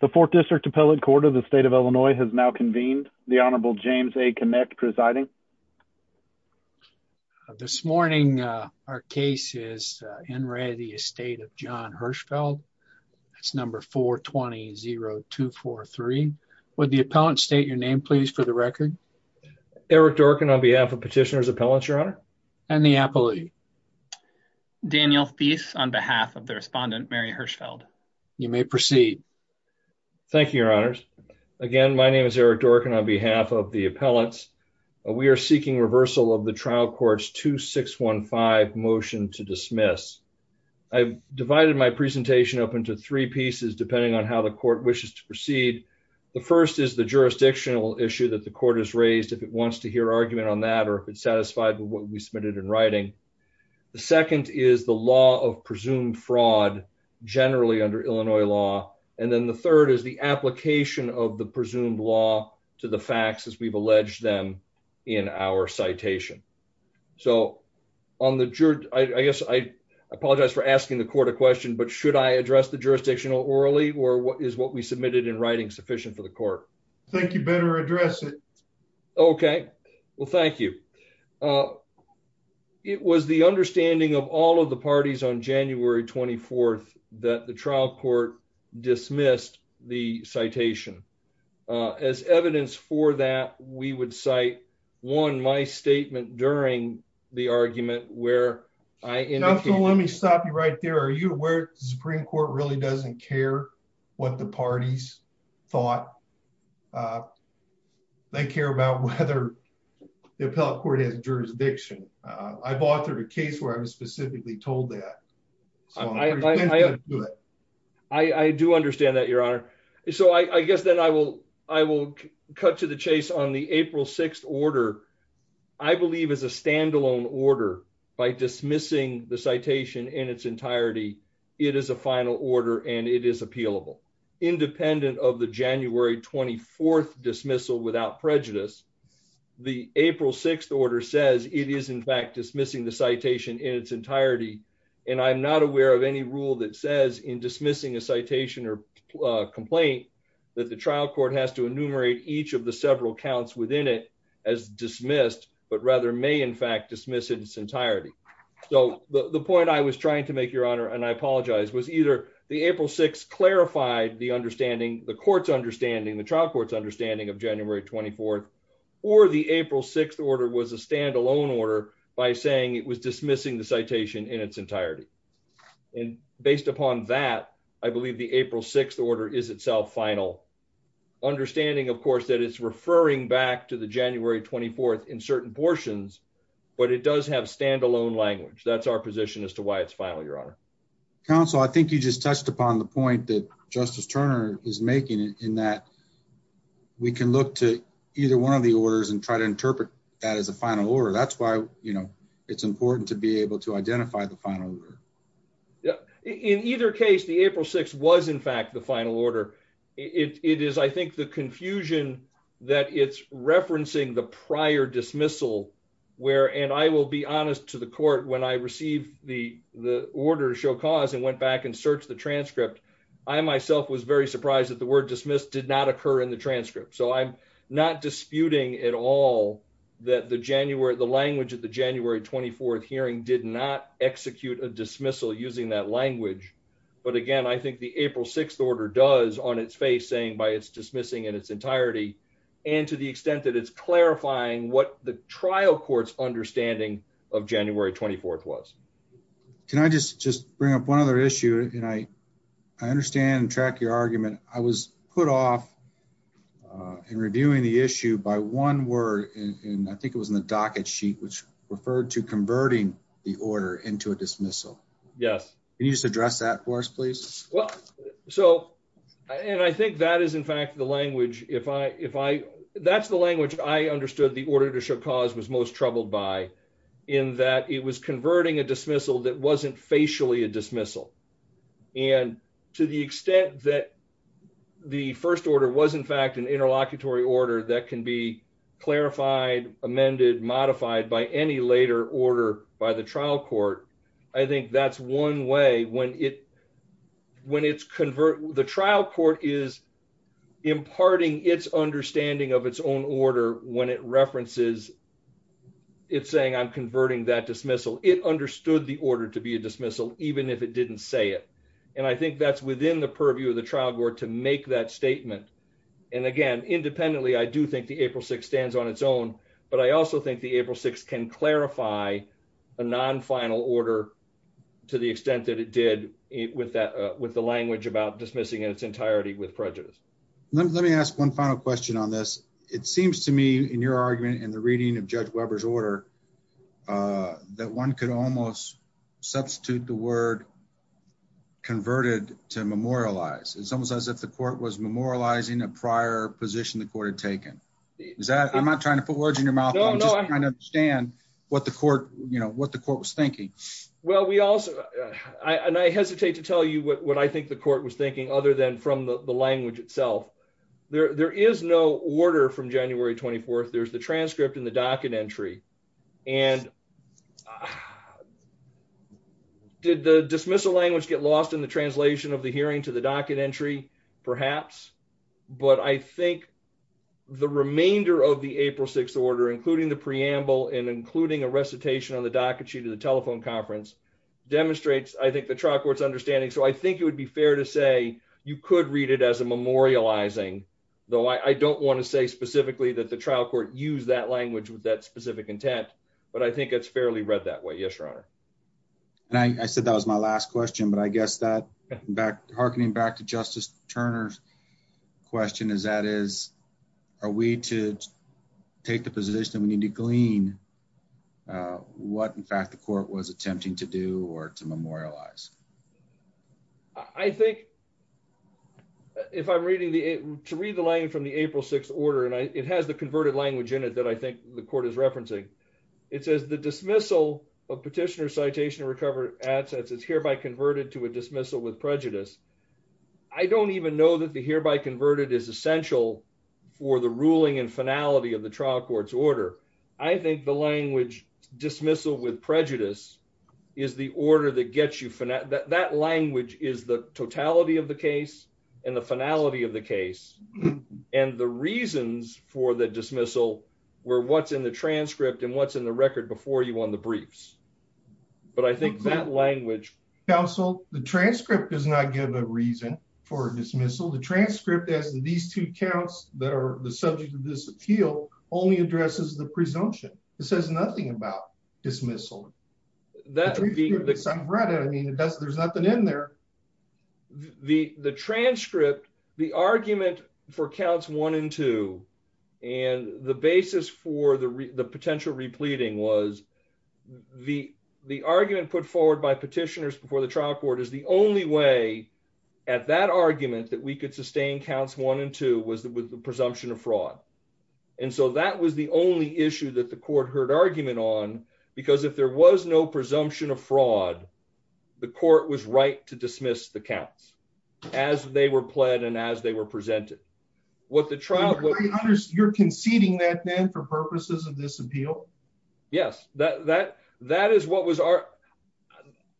The 4th District Appellate Court of the State of Illinois has now convened. The Honorable James A. Kinect presiding. This morning, our case is En Re. The Estate of John Hirschfeld. That's number 420-0243. Would the appellant state your name, please, for the record? Eric Dorkin on behalf of Petitioner's Appellants, Your Honor. And the appellate? Daniel Fies on behalf of the respondent, Mary Hirschfeld. You may proceed. Thank you, Your Honors. Again, my name is Eric Dorkin on behalf of the appellants. We are seeking reversal of the trial court's 2615 motion to dismiss. I've divided my presentation up into three pieces depending on how the court wishes to proceed. The first is the jurisdictional issue that the court has raised, if it wants to hear argument on that or if it's satisfied with what we submitted in writing. The second is the law of presumed fraud generally under Illinois law. And then the third is the application of the presumed law to the facts as we've alleged them in our citation. So, I guess I apologize for asking the court a question, but should I address the jurisdictional orally or is what we submitted in writing sufficient for the court? I think you better address it. Okay. Well, thank you. It was the understanding of all of the parties on January 24th that the trial court dismissed the citation. As evidence for that, we would cite, one, my statement during the argument where I indicated- Counselor, let me stop you right there. Are you aware the Supreme Court really doesn't care what the parties thought? They care about whether the appellate court has jurisdiction. I've authored a case where I was specifically told that. I do understand that, Your Honor. So, I guess then I will cut to the chase on the April 6th order. I believe as a standalone order, by dismissing the citation in its entirety, it is a final order and it is appealable. Independent of the January 24th dismissal without prejudice, the April 6th order says it is in fact dismissing the citation in its entirety. And I'm not aware of any rule that says in dismissing a citation or complaint that the trial court has to enumerate each of the several counts within it as dismissed, but rather may in fact dismiss it in its entirety. So, the point I was trying to make, Your Honor, and I apologize, was either the April 6th clarified the understanding, the court's understanding, the trial court's understanding of January 24th, or the April 6th order was a standalone order by saying it was dismissing the citation in its entirety. And based upon that, I believe the April 6th order is itself final. Understanding, of course, that it's referring back to the January 24th in certain portions, but it does have standalone language. That's our position as to why it's final, Your Honor. Counsel, I think you just touched upon the point that Justice Turner is making in that we can look to either one of the orders and try to interpret that as a final order. That's why, you know, it's important to be able to identify the final order. In either case, the April 6th was in fact the final order. It is, I think, the confusion that it's referencing the prior dismissal where, and I will be honest to the court, when I received the order to show cause and went back and searched the transcript, I myself was very surprised that the word dismiss did not occur in the transcript. So I'm not disputing at all that the language of the January 24th hearing did not execute a dismissal using that language. But again, I think the April 6th order does on its face saying by its dismissing in its entirety, and to the extent that it's clarifying what the trial court's understanding of January 24th was. Can I just bring up one other issue, and I understand and track your argument. I was put off in reviewing the issue by one word, and I think it was in the docket sheet, which referred to converting the order into a dismissal. Yes. Can you just address that for us, please. So, and I think that is in fact the language, if I, if I, that's the language I understood the order to show cause was most troubled by in that it was converting a dismissal that wasn't facially a dismissal. And to the extent that the first order was in fact an interlocutory order that can be clarified amended modified by any later order by the trial court. I think that's one way when it when it's convert the trial court is imparting its understanding of its own order, when it references. It's saying I'm converting that dismissal it understood the order to be a dismissal, even if it didn't say it. And I think that's within the purview of the trial board to make that statement. And again, independently I do think the April 6 stands on its own, but I also think the April 6 can clarify a non final order, to the extent that it did it with that with the language about dismissing its entirety with prejudice. Let me ask one final question on this, it seems to me in your argument and the reading of Judge Weber's order that one could almost substitute the word converted to memorialize it's almost as if the court was memorializing a prior position the court had taken. Is that I'm not trying to put words in your mouth, understand what the court, you know what the court was thinking. Well, we also, and I hesitate to tell you what I think the court was thinking other than from the language itself. There is no order from January 24 there's the transcript in the docket entry. And did the dismissal language get lost in the translation of the hearing to the docket entry, perhaps, but I think the remainder of the April 6 order including the preamble and including a recitation on the docket sheet of the telephone conference demonstrates I think the trial courts understanding so I think it would be fair to say you could read it as a memorializing, though I don't want to say specifically that the trial court use that language with that specific intent, but I think it's fairly read that way. Yes, Your Honor. And I said that was my last question but I guess that back harkening back to Justice Turner's question is that is, are we to take the position we need to glean what in fact the court was attempting to do or to memorialize. I think if I'm reading the to read the line from the April 6 order and I, it has the converted language in it that I think the court is referencing. It says the dismissal of petitioner citation to recover assets is hereby converted to a dismissal with prejudice. I don't even know that the hereby converted is essential for the ruling and finality of the trial courts order. I think the language dismissal with prejudice is the order that gets you for that that language is the totality of the case, and the finality of the case, and the reasons for the dismissal, where what's in the transcript and what's in the record before you on the briefs. But I think that language. Also, the transcript does not give a reason for dismissal the transcript as these two counts that are the subject of this appeal only addresses the presumption. It says nothing about dismissal that read it I mean it does there's nothing in there. The, the transcript, the argument for counts one and two, and the basis for the potential repleting was the, the argument put forward by petitioners before the trial court is the only way at that argument that we could sustain counts one and two counts as they were pled and as they were presented what the trial. You're conceding that then for purposes of this appeal. Yes, that, that, that is what was our.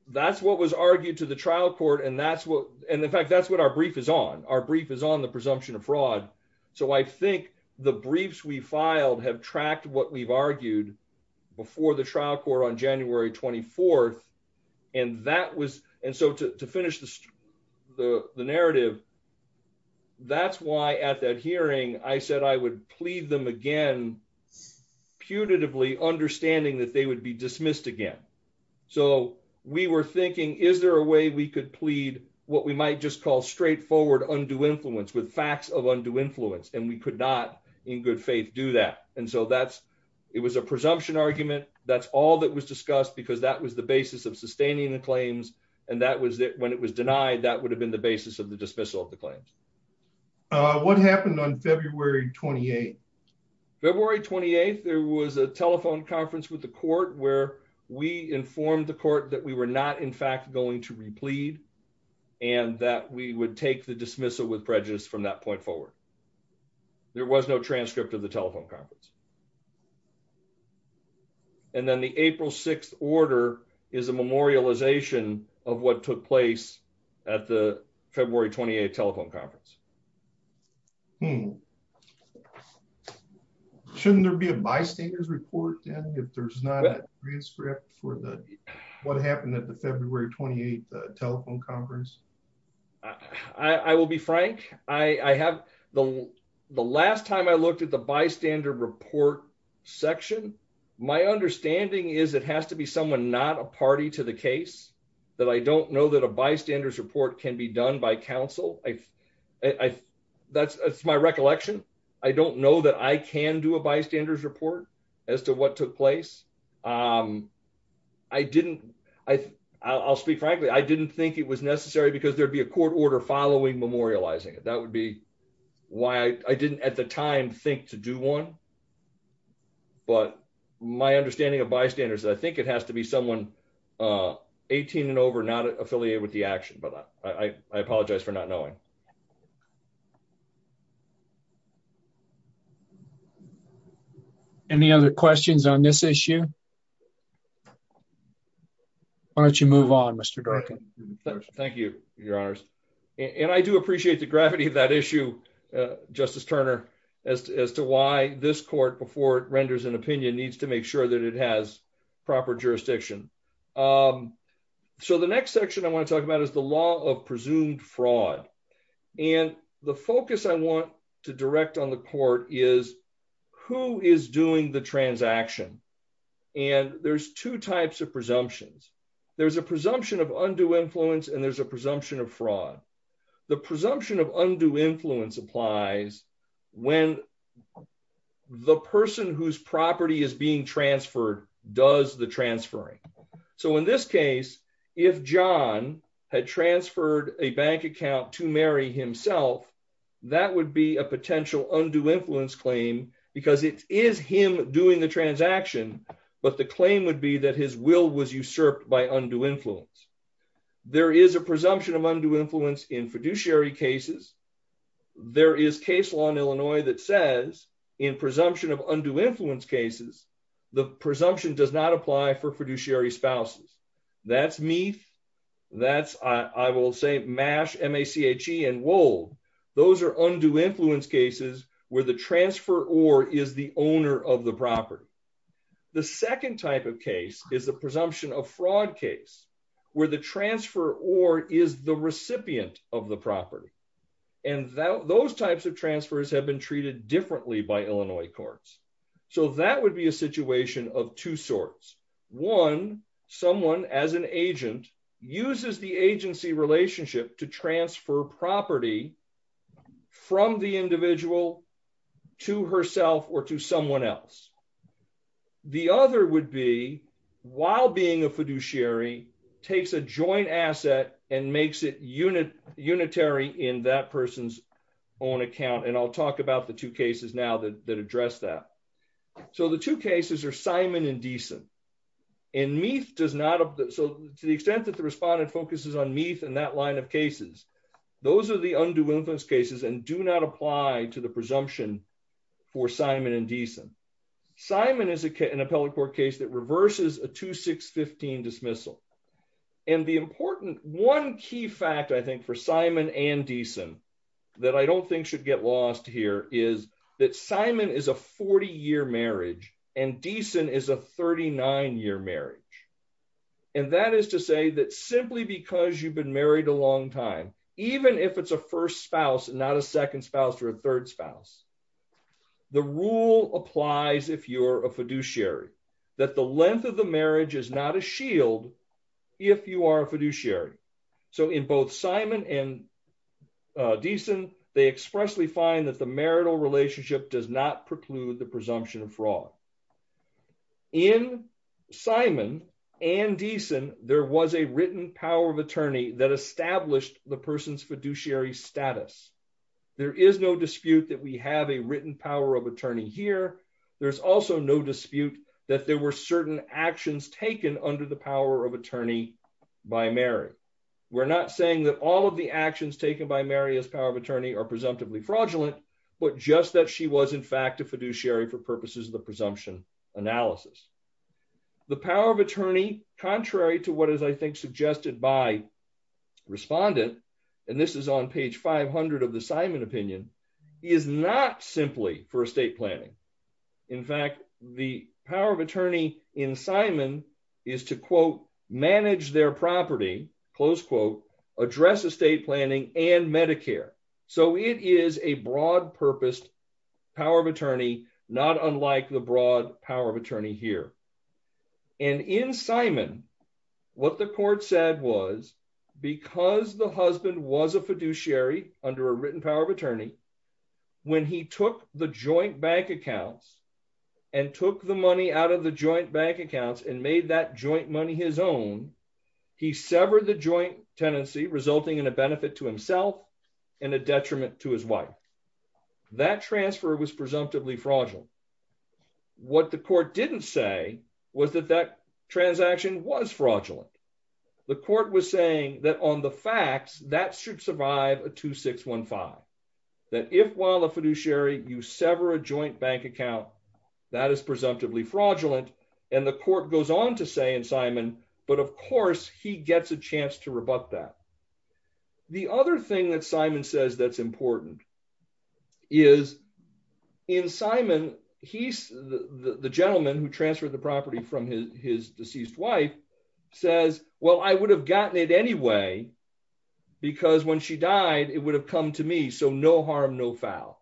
That's what was argued to the trial court and that's what, and in fact that's what our brief is on our brief is on the presumption of fraud. So I think the briefs we filed have tracked what we've argued before the trial court on January 24. And that was, and so to finish the, the narrative. That's why at that hearing, I said I would plead them again putatively understanding that they would be dismissed again. So, we were thinking, is there a way we could plead, what we might just call straightforward undue influence with facts of undue influence and we could not in good faith do that. And so that's, it was a presumption argument, that's all that was discussed because that was the basis of sustaining the claims, and that was that when it was denied that would have been the basis of the dismissal of the claims. What happened on February 28. February 28 there was a telephone conference with the court where we informed the court that we were not in fact going to replete, and that we would take the dismissal with prejudice from that point forward. There was no transcript of the telephone conference. And then the April 6 order is a memorialization of what took place at the February 28 telephone conference. Hmm. Shouldn't there be a bystanders report and if there's not a transcript for the. What happened at the February 28 telephone conference. I will be frank, I have the last time I looked at the bystander report section. My understanding is it has to be someone not a party to the case that I don't know that a bystanders report can be done by counsel, I, I, that's my recollection. I don't know that I can do a bystanders report as to what took place. I didn't, I, I'll speak frankly I didn't think it was necessary because there'd be a court order following memorializing it that would be why I didn't at the time think to do one. But my understanding of bystanders I think it has to be someone 18 and over not affiliated with the action but I apologize for not knowing. Thank you. Any other questions on this issue. Why don't you move on, Mr. Thank you, Your Honors. And I do appreciate the gravity of that issue. Justice Turner, as to why this court before it renders an opinion needs to make sure that it has proper jurisdiction. So the next section I want to talk about is the law of presumed fraud. And the focus I want to direct on the court is who is doing the transaction. And there's two types of presumptions. There's a presumption of undue influence and there's a presumption of fraud. The presumption of undue influence applies when the person whose property is being transferred does the transferring. So in this case, if john had transferred a bank account to marry himself. That would be a potential undue influence claim, because it is him doing the transaction, but the claim would be that his will was usurped by undue influence. There is a presumption of undue influence in fiduciary cases. There is case law in Illinois that says in presumption of undue influence cases, the presumption does not apply for fiduciary spouses. That's me. That's, I will say, mash MACH and wool. Those are undue influence cases where the transfer or is the owner of the property. The second type of case is the presumption of fraud case where the transfer or is the recipient of the property. And that those types of transfers have been treated differently by Illinois courts. So that would be a situation of two sorts. One, someone as an agent uses the agency relationship to transfer property from the individual to herself or to someone else. The other would be while being a fiduciary takes a joint asset and makes it unit unitary in that person's own account and I'll talk about the two cases now that address that. So the two cases are Simon and Deason. And Meath does not have that so to the extent that the respondent focuses on Meath and that line of cases. Those are the undue influence cases and do not apply to the presumption for Simon and Deason. Simon is an appellate court case that reverses a 2615 dismissal. And the important one key fact I think for Simon and Deason that I don't think should get lost here is that Simon is a 40 year marriage and Deason is a 39 year marriage. And that is to say that simply because you've been married a long time, even if it's a first spouse and not a second spouse or a third spouse. The rule applies if you're a fiduciary that the length of the marriage is not a shield. If you are a fiduciary. So in both Simon and Deason, they expressly find that the marital relationship does not preclude the presumption of fraud. In Simon and Deason, there was a written power of attorney that established the person's fiduciary status. There is no dispute that we have a written power of attorney here. There's also no dispute that there were certain actions taken under the power of attorney by Mary. We're not saying that all of the actions taken by Mary's power of attorney are presumptively fraudulent, but just that she was in fact a fiduciary for purposes of the presumption analysis. The power of attorney, contrary to what is I think suggested by respondent, and this is on page 500 of the Simon opinion is not simply for estate planning. In fact, the power of attorney in Simon is to quote manage their property, close quote, address estate planning and Medicare. So it is a broad purpose power of attorney, not unlike the broad power of attorney here. And in Simon, what the court said was, because the husband was a fiduciary under a written power of attorney. When he took the joint bank accounts and took the money out of the joint bank accounts and made that joint money his own. He severed the joint tenancy resulting in a benefit to himself and a detriment to his wife. That transfer was presumptively fraudulent. What the court didn't say was that that transaction was fraudulent. The court was saying that on the facts that should survive a 2615 that if while a fiduciary you sever a joint bank account that is presumptively fraudulent, and the court goes on to say in Simon, but of course he gets a chance to rebut that. The other thing that Simon says that's important is in Simon, he's the gentleman who transferred the property from his deceased wife says, Well, I would have gotten it anyway. Because when she died, it would have come to me so no harm no foul.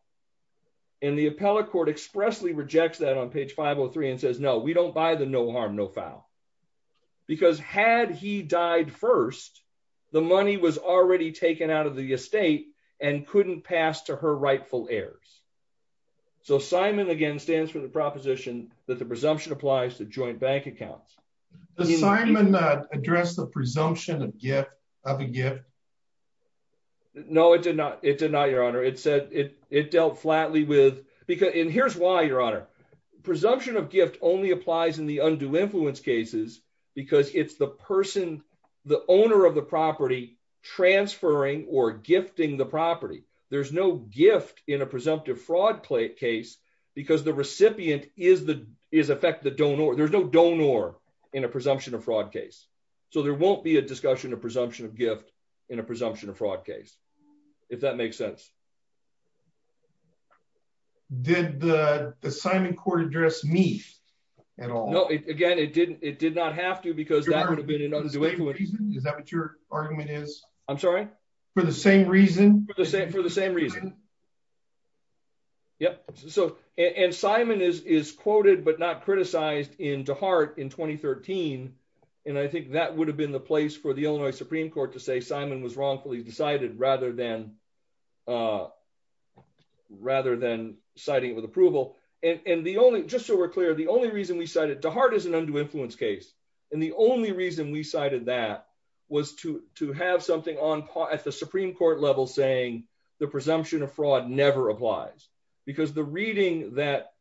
And the appellate court expressly rejects that on page 503 and says no we don't buy the no harm no foul. Because had he died first, the money was already taken out of the estate and couldn't pass to her rightful heirs. So Simon again stands for the proposition that the presumption applies to joint bank accounts assignment not address the presumption of gift of a gift. No, it did not, it did not your honor it said it, it dealt flatly with, because in here's why your honor presumption of gift only applies in the undue influence cases, because it's the person, the owner of the property transferring or gifting the property, there's no gift in a presumptive fraud case, because the recipient is the is affect the donor there's no donor in a presumption of fraud case. So there won't be a discussion of presumption of gift in a presumption of fraud case, if that makes sense. Did the assignment court address me at all. Again, it didn't, it did not have to because that would have been in other ways. Is that what your argument is, I'm sorry, for the same reason, the same for the same reason. Yep. So, and Simon is is quoted but not criticized into heart in 2013. And I think that would have been the place for the Illinois Supreme Court to say Simon was wrongfully decided rather than, rather than citing with approval, and the only just so we're clear the only reason we cited to heart is an undue influence case. And the only reason we cited that was to, to have something on at the Supreme Court level saying the presumption of fraud never applies, because the reading that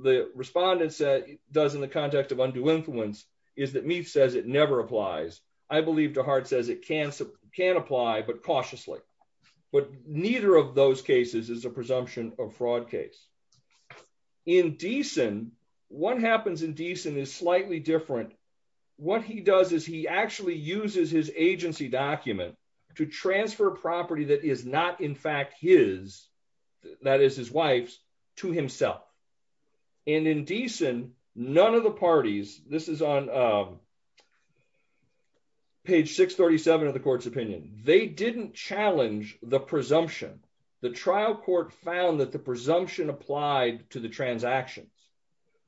the respondents that does in the context of undue influence is that me says it never applies. I believe to heart says it can can apply but cautiously, but neither of those cases is a presumption of fraud case in decent. One happens in decent is slightly different. What he does is he actually uses his agency document to transfer property that is not in fact his that is his wife's to himself. And indecent, none of the parties, this is on page 637 of the court's opinion, they didn't challenge the presumption, the trial court found that the presumption applied to the transactions.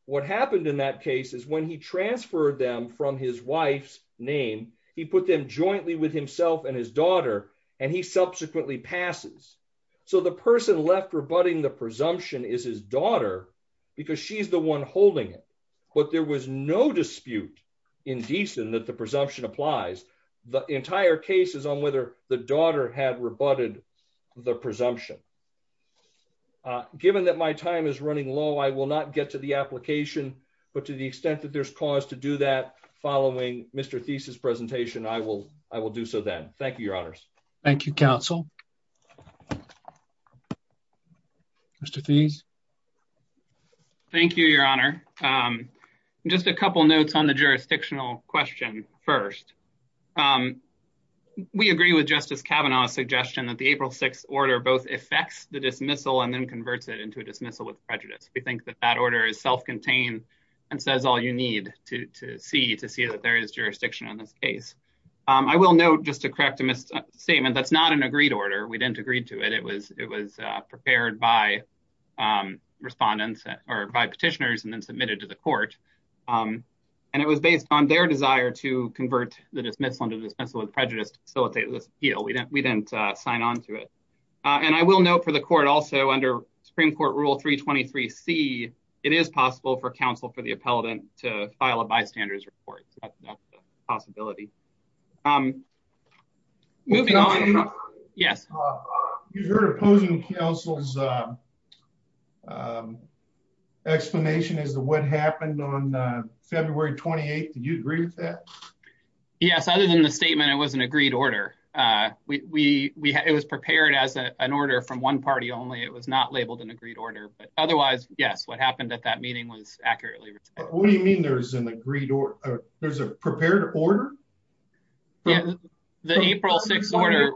What happened in that case is when he transferred them from his wife's name, he put them jointly with himself and his daughter, and he subsequently passes. So the person left rebutting the presumption is his daughter, because she's the one holding it, but there was no dispute in decent that the presumption applies the entire cases on whether the daughter had rebutted the presumption. Given that my time is running low, I will not get to the application, but to the extent that there's cause to do that, following Mr thesis presentation I will, I will do so then. Thank you, Your Honors. Thank you, counsel. Mr fees. Thank you, Your Honor. Just a couple notes on the jurisdictional question. First, we agree with Justice Kavanaugh suggestion that the April 6 order both affects the dismissal and then converts it into a dismissal with prejudice, we think that that order is self contained and says all you need to see to see that there is jurisdiction on this case, I will know just to correct a mistake statement that's not an agreed order we didn't agree to it, it was, it was prepared by respondents or by petitioners and then submitted to the court. And it was based on their desire to convert the dismissal and dismissal and prejudice facilitate this deal we didn't we didn't sign on to it. And I will know for the court also under Supreme Court rule 323 see it is possible for counsel for the appellate to file a bystanders report possibility. Yes. You're opposing counsel's explanation is the what happened on February 28 Did you agree with that. Yes, other than the statement it was an agreed order. We, we, it was prepared as an order from one party only it was not labeled an agreed order but otherwise, yes, what happened at that meeting was accurately. What do you mean there's an agreed or there's a prepared order. The April 6 order.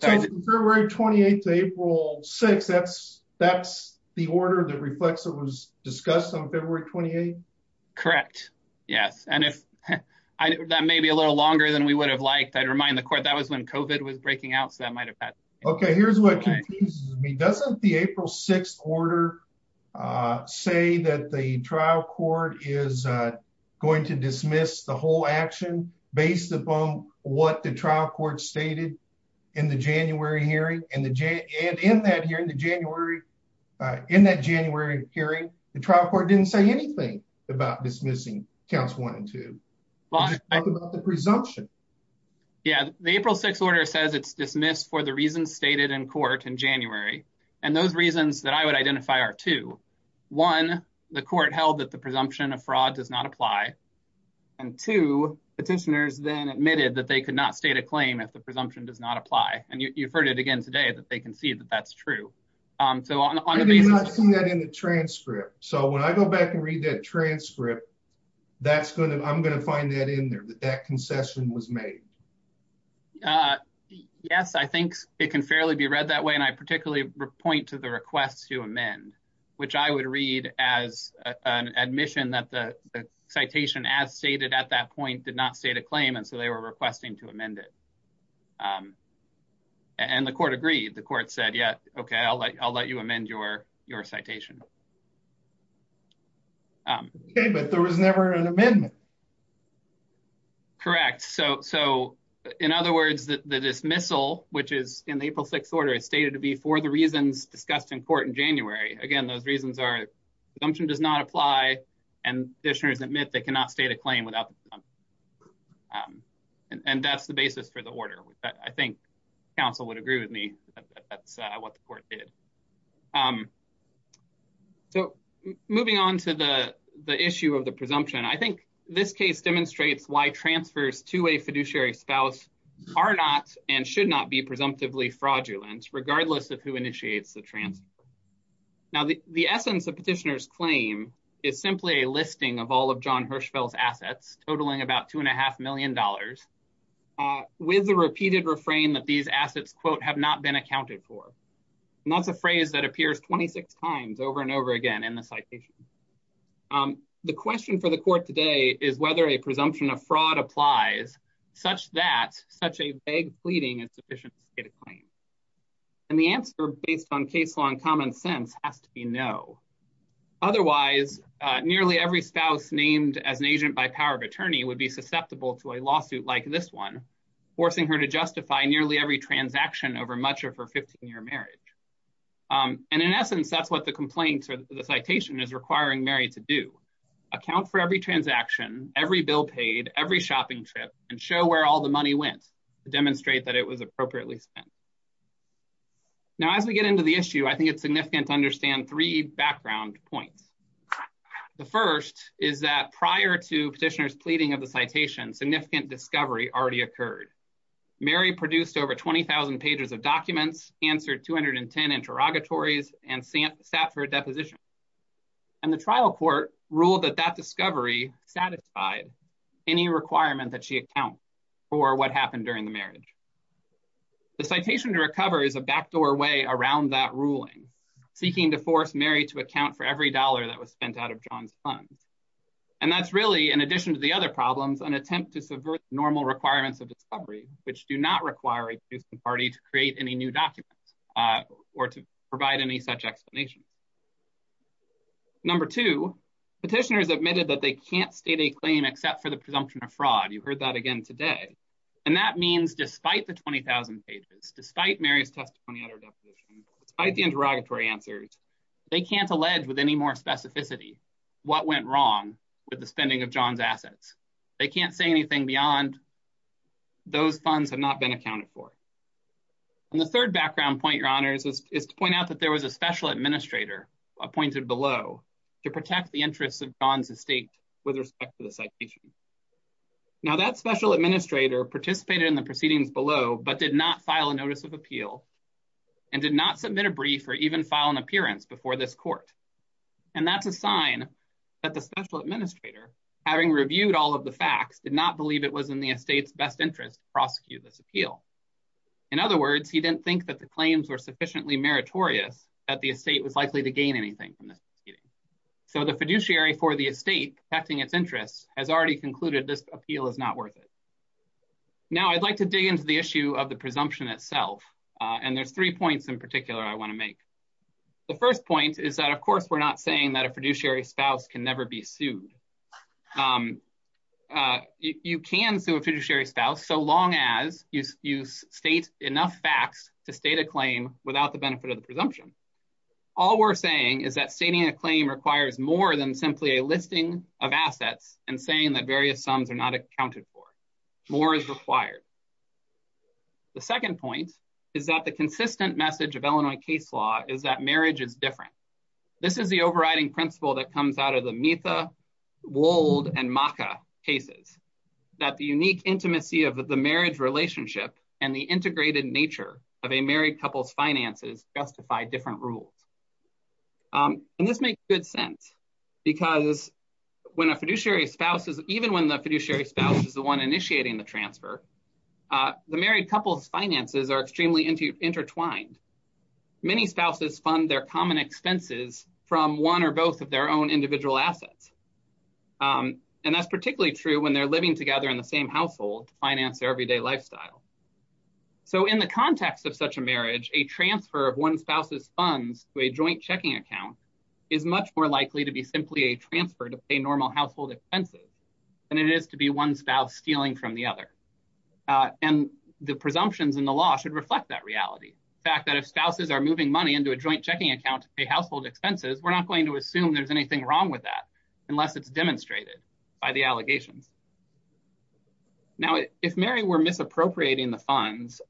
February 28 April six that's that's the order that reflects it was discussed on February 28. Correct. Yes. And if that may be a little longer than we would have liked I'd remind the court that was when COVID was breaking out so that might have been. Okay, here's what doesn't the April 6 order, say that the trial court is going to dismiss the whole action, based upon what the trial court stated in the January hearing, and the J and in that year in the January. In that January hearing the trial court didn't say anything about dismissing counts one and two. The presumption. Yeah, the April 6 order says it's dismissed for the reasons stated in court in January, and those reasons that I would identify are to one, the court held that the presumption of fraud does not apply. And to petitioners then admitted that they could not state a claim if the presumption does not apply, and you've heard it again today that they can see that that's true. So on the transcript. So when I go back and read that transcript. That's going to I'm going to find that in there that that concession was made. Yes, I think it can fairly be read that way and I particularly point to the request to amend, which I would read as an admission that the citation as stated at that point did not say to claim and so they were requesting to amend it. And the court agreed the court said yeah okay I'll let you I'll let you amend your, your citation. But there was never an amendment. Correct. So, so, in other words, that the dismissal, which is in the April 6 order is stated to be for the reasons discussed in court in January, again, those reasons are function does not apply. And this year is admit they cannot state a claim without. And that's the basis for the order, I think, Council would agree with me. That's what the court did. So, moving on to the, the issue of the presumption I think this case demonstrates why transfers to a fiduciary spouse are not and should not be presumptively fraudulent regardless of who initiates the transfer. Now the, the essence of petitioners claim is simply a listing of all of john Hirschfeld assets totaling about two and a half million dollars. With the repeated refrain that these assets quote have not been accounted for. And that's a phrase that appears 26 times over and over again in the citation. The question for the court today is whether a presumption of fraud applies, such that such a vague pleading and sufficient data claim. And the answer based on case law and common sense has to be no. Otherwise, nearly every spouse named as an agent by power of attorney would be susceptible to a lawsuit like this one, forcing her to justify nearly every transaction over much of her 15 year marriage. And in essence, that's what the complaint or the citation is requiring Mary to do account for every transaction every bill paid every shopping trip and show where all the money went to demonstrate that it was appropriately spent. Now, as we get into the issue. I think it's significant to understand three background points. The first is that prior to petitioners pleading of the citation significant discovery already occurred. Mary produced over 20,000 pages of documents answered 210 interrogatories and Stanford deposition. And the trial court rule that that discovery satisfied any requirement that she account for what happened during the marriage. The citation to recover is a backdoor way around that ruling seeking to force Mary to account for every dollar that was spent out of john's funds. And that's really, in addition to the other problems and attempt to subvert normal requirements of discovery, which do not require a party to create any new documents or to provide any such explanation. Number two petitioners admitted that they can't state a claim except for the presumption of fraud. You've heard that again today. And that means despite the 20,000 pages despite Mary's testimony at our deposition, despite the interrogatory answers. They can't allege with any more specificity. What went wrong with the spending of john's assets. They can't say anything beyond those funds have not been accounted for. And the third background point your honors is to point out that there was a special administrator appointed below to protect the interests of john's estate with respect to the citation. Now that special administrator participated in the proceedings below but did not file a notice of appeal and did not submit a brief or even file an appearance before this court. And that's a sign that the special administrator, having reviewed all of the facts did not believe it was in the estate's best interest prosecute this appeal. In other words, he didn't think that the claims were sufficiently meritorious at the estate was likely to gain anything from this meeting. So the fiduciary for the estate affecting its interests has already concluded this appeal is not worth it. Now I'd like to dig into the issue of the presumption itself. And there's three points in particular, I want to make the first point is that, of course, we're not saying that a fiduciary spouse can never be sued. You can sue a fiduciary spouse so long as you use state enough facts to state a claim without the benefit of the presumption. All we're saying is that stating a claim requires more than simply a listing of assets and saying that various sums are not accounted for more is required. The second point is that the consistent message of Illinois case law is that marriage is different. This is the overriding principle that comes out of the Mita, Wold and Maka cases that the unique intimacy of the marriage relationship and the integrated nature of a married couples finances justify different rules. And this makes good sense because when a fiduciary spouse is even when the fiduciary spouse is the one initiating the transfer. The married couples finances are extremely into intertwined many spouses fund their common expenses from one or both of their own individual assets. And that's particularly true when they're living together in the same household finance everyday lifestyle. So in the context of such a marriage, a transfer of one spouse's funds to a joint checking account is much more likely to be simply a transfer to pay normal household expenses. And it is to be one spouse stealing from the other. And the presumptions in the law should reflect that reality fact that if spouses are moving money into a joint checking account a household expenses, we're not going to assume there's anything wrong with that unless it's demonstrated by the allegations. Now, if Mary were misappropriating the funds.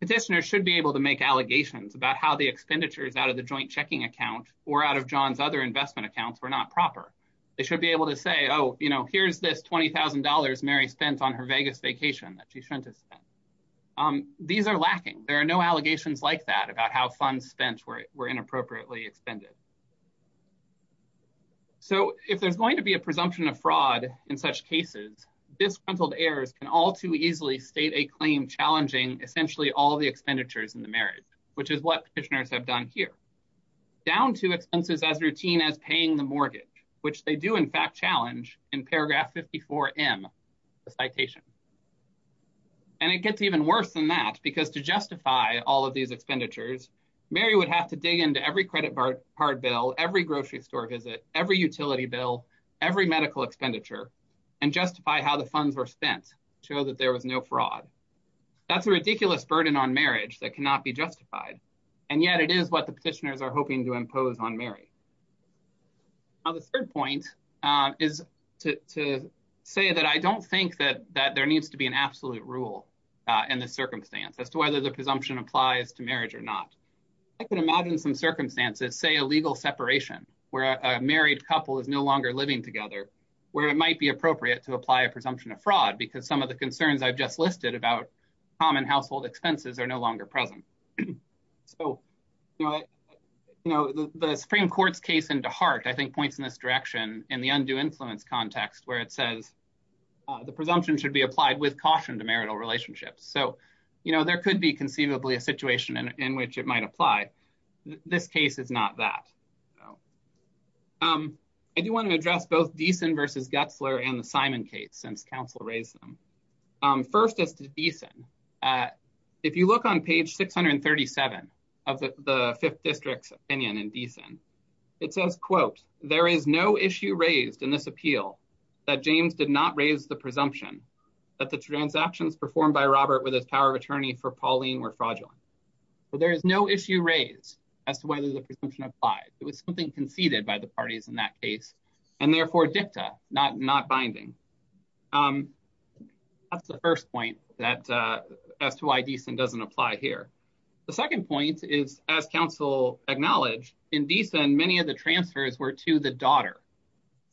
Petitioners should be able to make allegations about how the expenditures out of the joint checking account or out of john's other investment accounts were not proper. They should be able to say, oh, you know, here's this $20,000 Mary spent on her Vegas vacation that she shouldn't have spent. These are lacking, there are no allegations like that about how funds spent were were inappropriately expended. So, if there's going to be a presumption of fraud in such cases, disgruntled heirs can all too easily state a claim challenging essentially all the expenditures in the marriage, which is what petitioners have done here. Down to expenses as routine as paying the mortgage, which they do in fact challenge in paragraph 54 M citation. And it gets even worse than that, because to justify all of these expenditures, Mary would have to dig into every credit card bill every grocery store visit every utility bill every medical expenditure. And justify how the funds were spent show that there was no fraud. That's a ridiculous burden on marriage that cannot be justified. And yet it is what the petitioners are hoping to impose on Mary. On the third point is to say that I don't think that that there needs to be an absolute rule and the circumstance as to whether the presumption applies to marriage or not. I can imagine some circumstances say a legal separation where a married couple is no longer living together, where it might be appropriate to apply a presumption of fraud, because some of the concerns I've just listed about common household expenses are no longer present. So, you know, the Supreme Court's case into heart, I think, points in this direction in the undue influence context where it says The presumption should be applied with caution to marital relationships. So, you know, there could be conceivably a situation in which it might apply. This case is not that Um, I do want to address both decent versus Getzler and the Simon case since Council race them. First is decent at if you look on page 637 of the fifth districts opinion and decent. It says, quote, there is no issue raised in this appeal that James did not raise the presumption. That the transactions performed by Robert with his power of attorney for Pauline were fraudulent. So there is no issue raised as to whether the presumption applied. It was something conceded by the parties in that case, and therefore dicta not not binding. That's the first point that as to why decent doesn't apply here. The second point is as Council acknowledge in decent many of the transfers were to the daughter.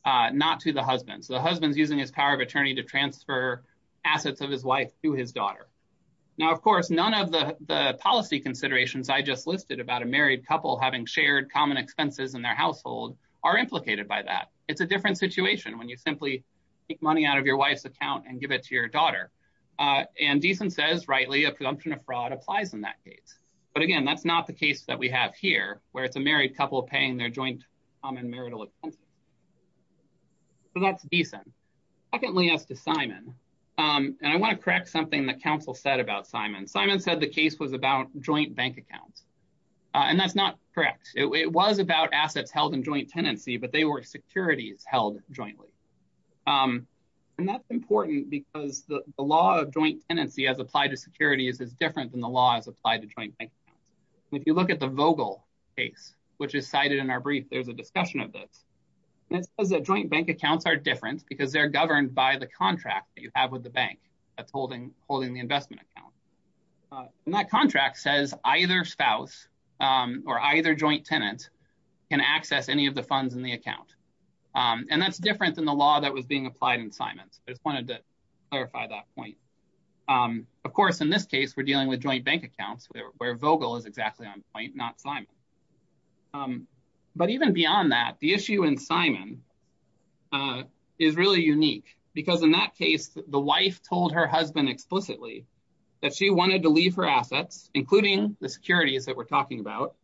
Not to the husband's the husband's using his power of attorney to transfer assets of his wife to his daughter. Now, of course, none of the policy considerations I just listed about a married couple having shared common expenses in their household are implicated by that. It's a different situation when you simply Money out of your wife's account and give it to your daughter and decent says rightly a presumption of fraud applies in that case. But again, that's not the case that we have here, where it's a married couple paying their joint common marital expense. So that's decent. Secondly, as to Simon and I want to correct something that Council said about Simon Simon said the case was about joint bank accounts and that's not correct. It was about assets held in joint tenancy, but they were securities held jointly. And that's important because the law of joint tenancy as applied to securities is different than the laws applied to join. If you look at the vocal case which is cited in our brief, there's a discussion of this as a joint bank accounts are different because they're governed by the contract that you have with the bank that's holding holding the investment account. And that contract says either spouse or either joint tenant can access any of the funds in the account. And that's different than the law that was being applied in Simon's just wanted to clarify that point. Of course, in this case, we're dealing with joint bank accounts where vocal is exactly on point not Simon But even beyond that, the issue in Simon Is really unique, because in that case, the wife told her husband explicitly that she wanted to leave her assets, including the securities that we're talking about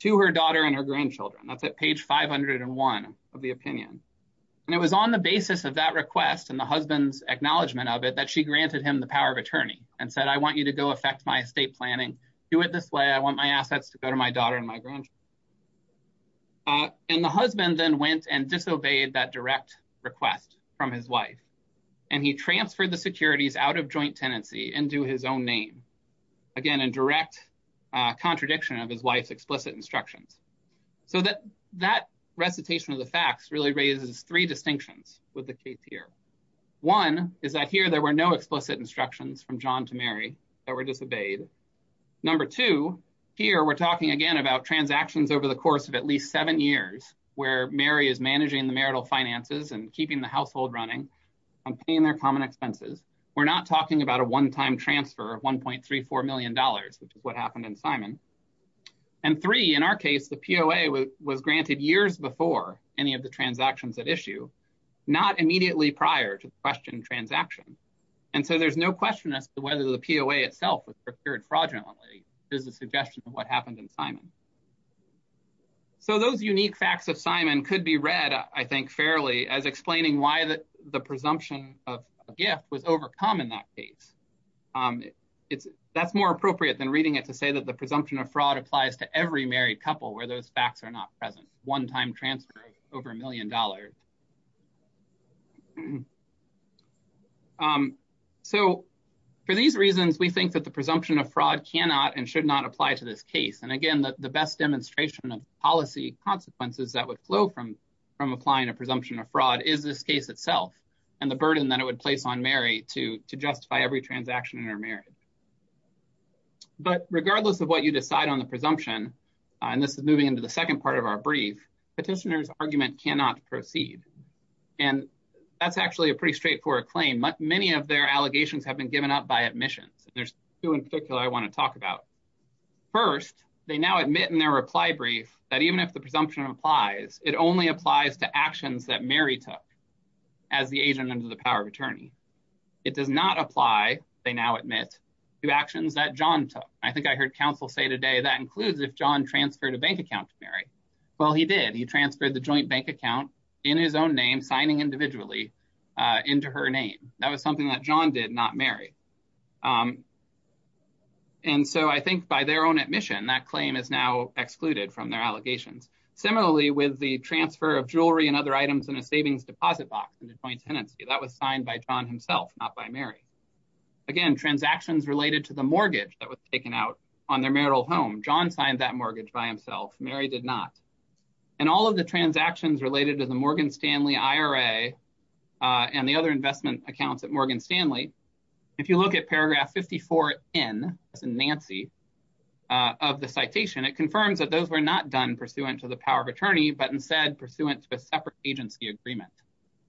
to her daughter and her grandchildren. That's at page 501 of the opinion. And it was on the basis of that request and the husband's acknowledgement of it that she granted him the power of attorney and said, I want you to go affect my estate planning do it this way. I want my assets to go to my daughter and my grandchild. And the husband then went and disobeyed that direct request from his wife and he transferred the securities out of joint tenancy and do his own name. Again, and direct contradiction of his wife's explicit instructions so that that recitation of the facts really raises three distinctions with the case here. One is that here there were no explicit instructions from john to Mary that were disobeyed. Number two, here we're talking again about transactions over the course of at least seven years where Mary is managing the marital finances and keeping the household running And paying their common expenses. We're not talking about a one time transfer of $1.34 million, which is what happened in Simon And three, in our case, the POA was granted years before any of the transactions that issue not immediately prior to the question transaction. And so there's no question as to whether the POA itself was procured fraudulently is a suggestion of what happened in Simon So those unique facts of Simon could be read, I think, fairly as explaining why the the presumption of gift was overcome in that case. It's that's more appropriate than reading it to say that the presumption of fraud applies to every married couple where those facts are not present one time transfer over a million dollars. So, for these reasons, we think that the presumption of fraud cannot and should not apply to this case. And again, the best demonstration of policy consequences that would flow from Applying a presumption of fraud is this case itself and the burden that it would place on Mary to to justify every transaction in her marriage. But regardless of what you decide on the presumption and this is moving into the second part of our brief petitioners argument cannot proceed. And that's actually a pretty straightforward claim, but many of their allegations have been given up by admissions. There's two in particular, I want to talk about First, they now admit in their reply brief that even if the presumption applies. It only applies to actions that Mary took As the agent under the power of attorney. It does not apply. They now admit to actions that john I think I heard counsel say today that includes if john transferred a bank account Mary Well, he did. He transferred the joint bank account in his own name signing individually into her name. That was something that john did not marry And so I think by their own admission that claim is now excluded from their allegations. Similarly, with the transfer of jewelry and other items in a savings deposit box and the joint tenancy that was signed by john himself, not by Mary. Again, transactions related to the mortgage that was taken out on their marital home john signed that mortgage by himself. Mary did not And all of the transactions related to the Morgan Stanley IRA and the other investment accounts at Morgan Stanley. If you look at paragraph 54 in Nancy. Of the citation it confirms that those were not done pursuant to the power of attorney, but instead pursuant to a separate agency agreement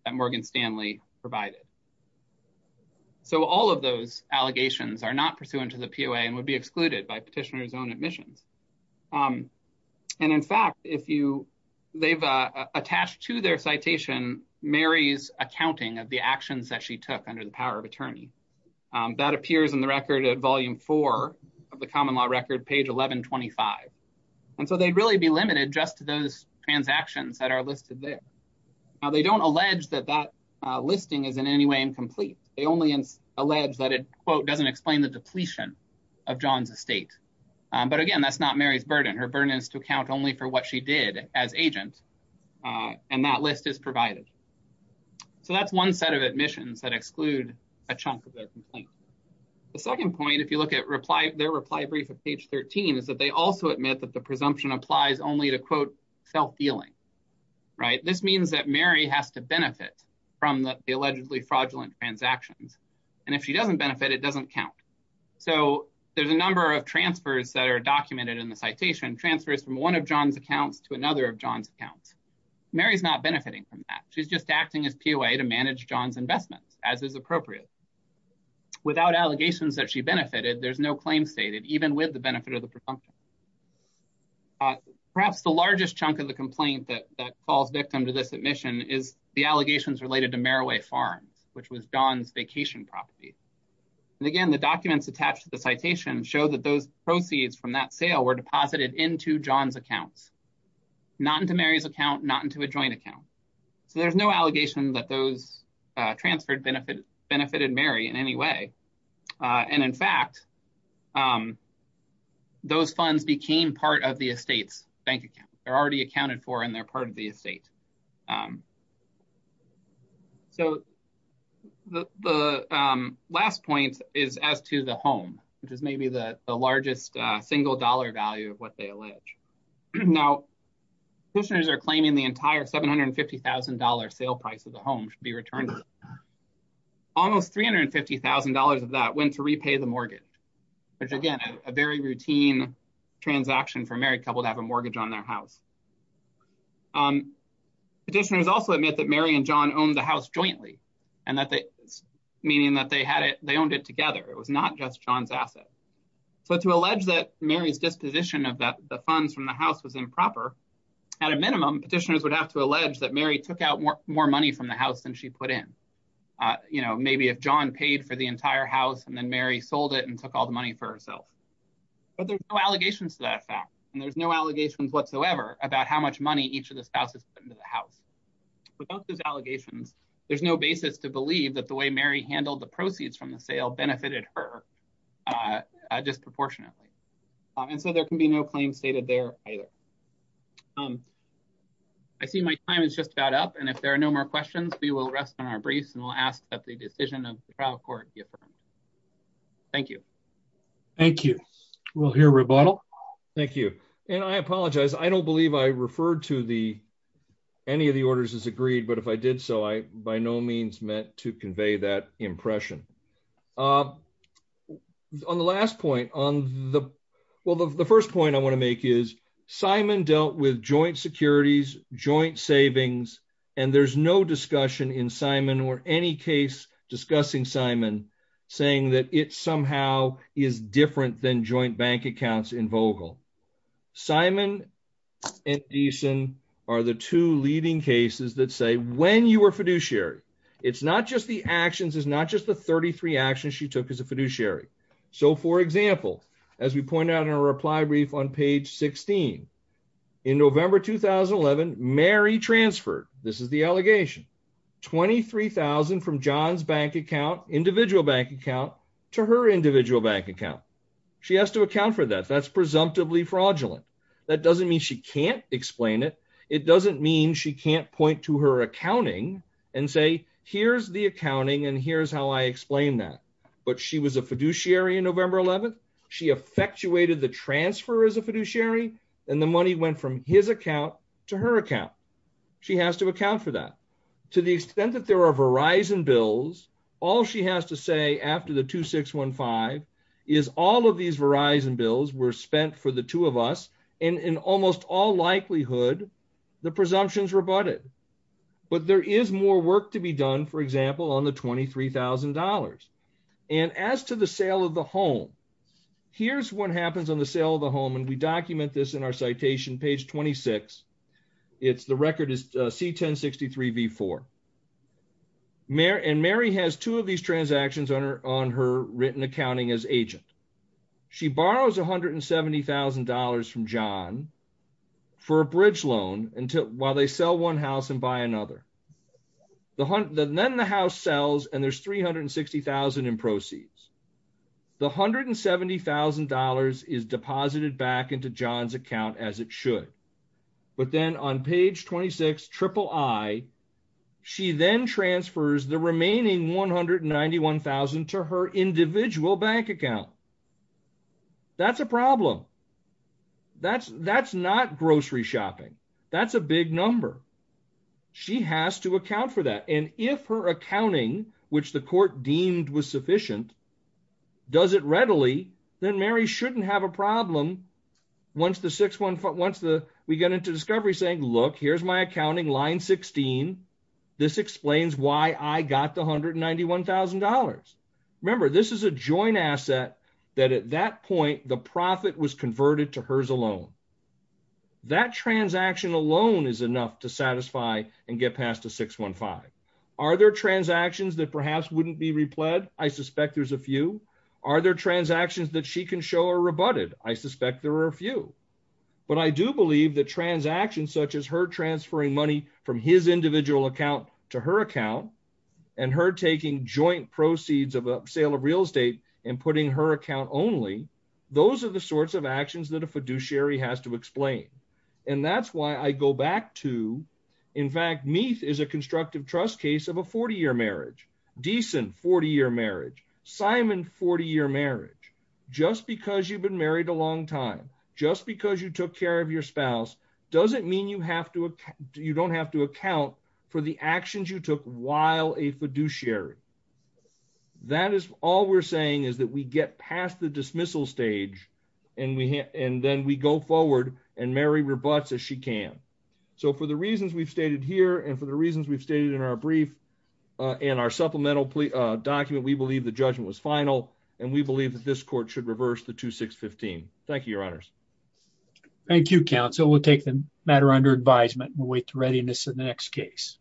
and Morgan Stanley provided So all of those allegations are not pursuant to the POA and would be excluded by petitioners own admissions And in fact, if you they've attached to their citation Mary's accounting of the actions that she took under the power of attorney. That appears in the record at volume four of the common law record page 1125 and so they'd really be limited just to those transactions that are listed there. They don't allege that that listing is in any way incomplete. They only in alleged that it quote doesn't explain the depletion of john's estate. But again, that's not Mary's burden. Her burden is to account only for what she did as agent and that list is provided So that's one set of admissions that exclude a chunk of Page 13 is that they also admit that the presumption applies only to quote self healing. Right. This means that Mary has to benefit from the allegedly fraudulent transactions and if she doesn't benefit. It doesn't count. So there's a number of transfers that are documented in the citation transfers from one of john's accounts to another of john's accounts. Mary's not benefiting from that. She's just acting as POA to manage john's investments as is appropriate. Without allegations that she benefited. There's no claim stated, even with the benefit of the presumption Perhaps the largest chunk of the complaint that falls victim to this admission is the allegations related to Maraway Farms, which was john's vacation property. And again, the documents attached to the citation show that those proceeds from that sale were deposited into john's accounts. Not into Mary's account, not into a joint account. So there's no allegation that those transferred benefit benefited Mary in any way. And in fact, Those funds became part of the estates bank account are already accounted for. And they're part of the estate. So, The last point is as to the home, which is maybe the largest single dollar value of what they allege now listeners are claiming the entire $750,000 sale price of the home should be returned. Almost $350,000 of that went to repay the mortgage, which again, a very routine transaction for married couple to have a mortgage on their house. Petitioners also admit that Mary and john own the house jointly and that they meaning that they had it. They owned it together. It was not just john's asset. So to allege that Mary's disposition of that the funds from the house was improper at a minimum petitioners would have to allege that Mary took out more more money from the house and she put in You know, maybe if john paid for the entire house and then Mary sold it and took all the money for herself. But there's no allegations to that fact. And there's no allegations whatsoever about how much money. Each of the spouses into the house without those allegations. There's no basis to believe that the way Mary handled the proceeds from the sale benefited her Just proportionately. And so there can be no claim stated there either. I see my time is just about up. And if there are no more questions, we will rest on our briefs and we'll ask that the decision of the trial court. Thank you. Thank you. We'll hear rebuttal. Thank you. And I apologize. I don't believe I referred to the any of the orders is agreed, but if I did so I by no means meant to convey that impression On the last point on the. Well, the first point I want to make is Simon dealt with joint securities joint savings and there's no discussion in Simon or any case discussing Simon saying that it's somehow is different than joint bank accounts in vocal Simon decent are the two leading cases that say when you were fiduciary. It's not just the actions is not just the 33 actions she took as a fiduciary. So for example, as we pointed out in a reply brief on page 16 In November 2011 Mary transferred. This is the allegation 23,000 from john's bank account individual bank account to her individual bank account. She has to account for that that's presumptively fraudulent. That doesn't mean she can't explain it. It doesn't mean she can't point to her accounting and say, here's the accounting and here's how I explained that But she was a fiduciary in November 11 she effectuated the transfer as a fiduciary and the money went from his account to her account. She has to account for that, to the extent that there are Verizon bills. All she has to say after the 2615 is all of these Verizon bills were spent for the two of us and in almost all likelihood, the presumptions rebutted But there is more work to be done. For example, on the $23,000 and as to the sale of the home. Here's what happens on the sale of the home and we document this in our citation page 26 it's the record is C 1063 before Mary and Mary has two of these transactions on her on her written accounting as agent. She borrows $170,000 from john for a bridge loan until while they sell one house and buy another. Then the house sells and there's 360,000 in proceeds. The $170,000 is deposited back into john's account as it should. But then on page 26 triple I, she then transfers the remaining 191,000 to her individual bank account. That's a problem. That's, that's not grocery shopping. That's a big number. She has to account for that and if her accounting, which the court deemed was sufficient. Does it readily, then Mary shouldn't have a problem. Once the six one foot once the we get into discovery saying look here's my accounting line 16. This explains why I got the $191,000. Remember, this is a joint asset that at that point the profit was converted to hers alone. That transaction alone is enough to satisfy and get past a 615. Are there transactions that perhaps wouldn't be replied, I suspect there's a few. Are there transactions that she can show are rebutted, I suspect there are a few, but I do believe that transactions such as her transferring money from his individual account to her account and her taking joint proceeds of a sale of real estate and putting her account only. Those are the sorts of actions that a fiduciary has to explain. And that's why I go back to. In fact, me is a constructive trust case of a 40 year marriage decent 40 year marriage, Simon 40 year marriage, just because you've been married a long time, just because you took care of your spouse doesn't mean you have to, you don't have to account for the actions you took while a fiduciary. That is all we're saying is that we get past the dismissal stage, and we hit, and then we go forward and Mary rebuts as she can. So for the reasons we've stated here and for the reasons we've stated in our brief, and our supplemental document we believe the judgment was final, and we believe that this court should reverse the 2615. Thank you, your honors. Thank you counsel will take the matter under advisement will wait to readiness in the next case.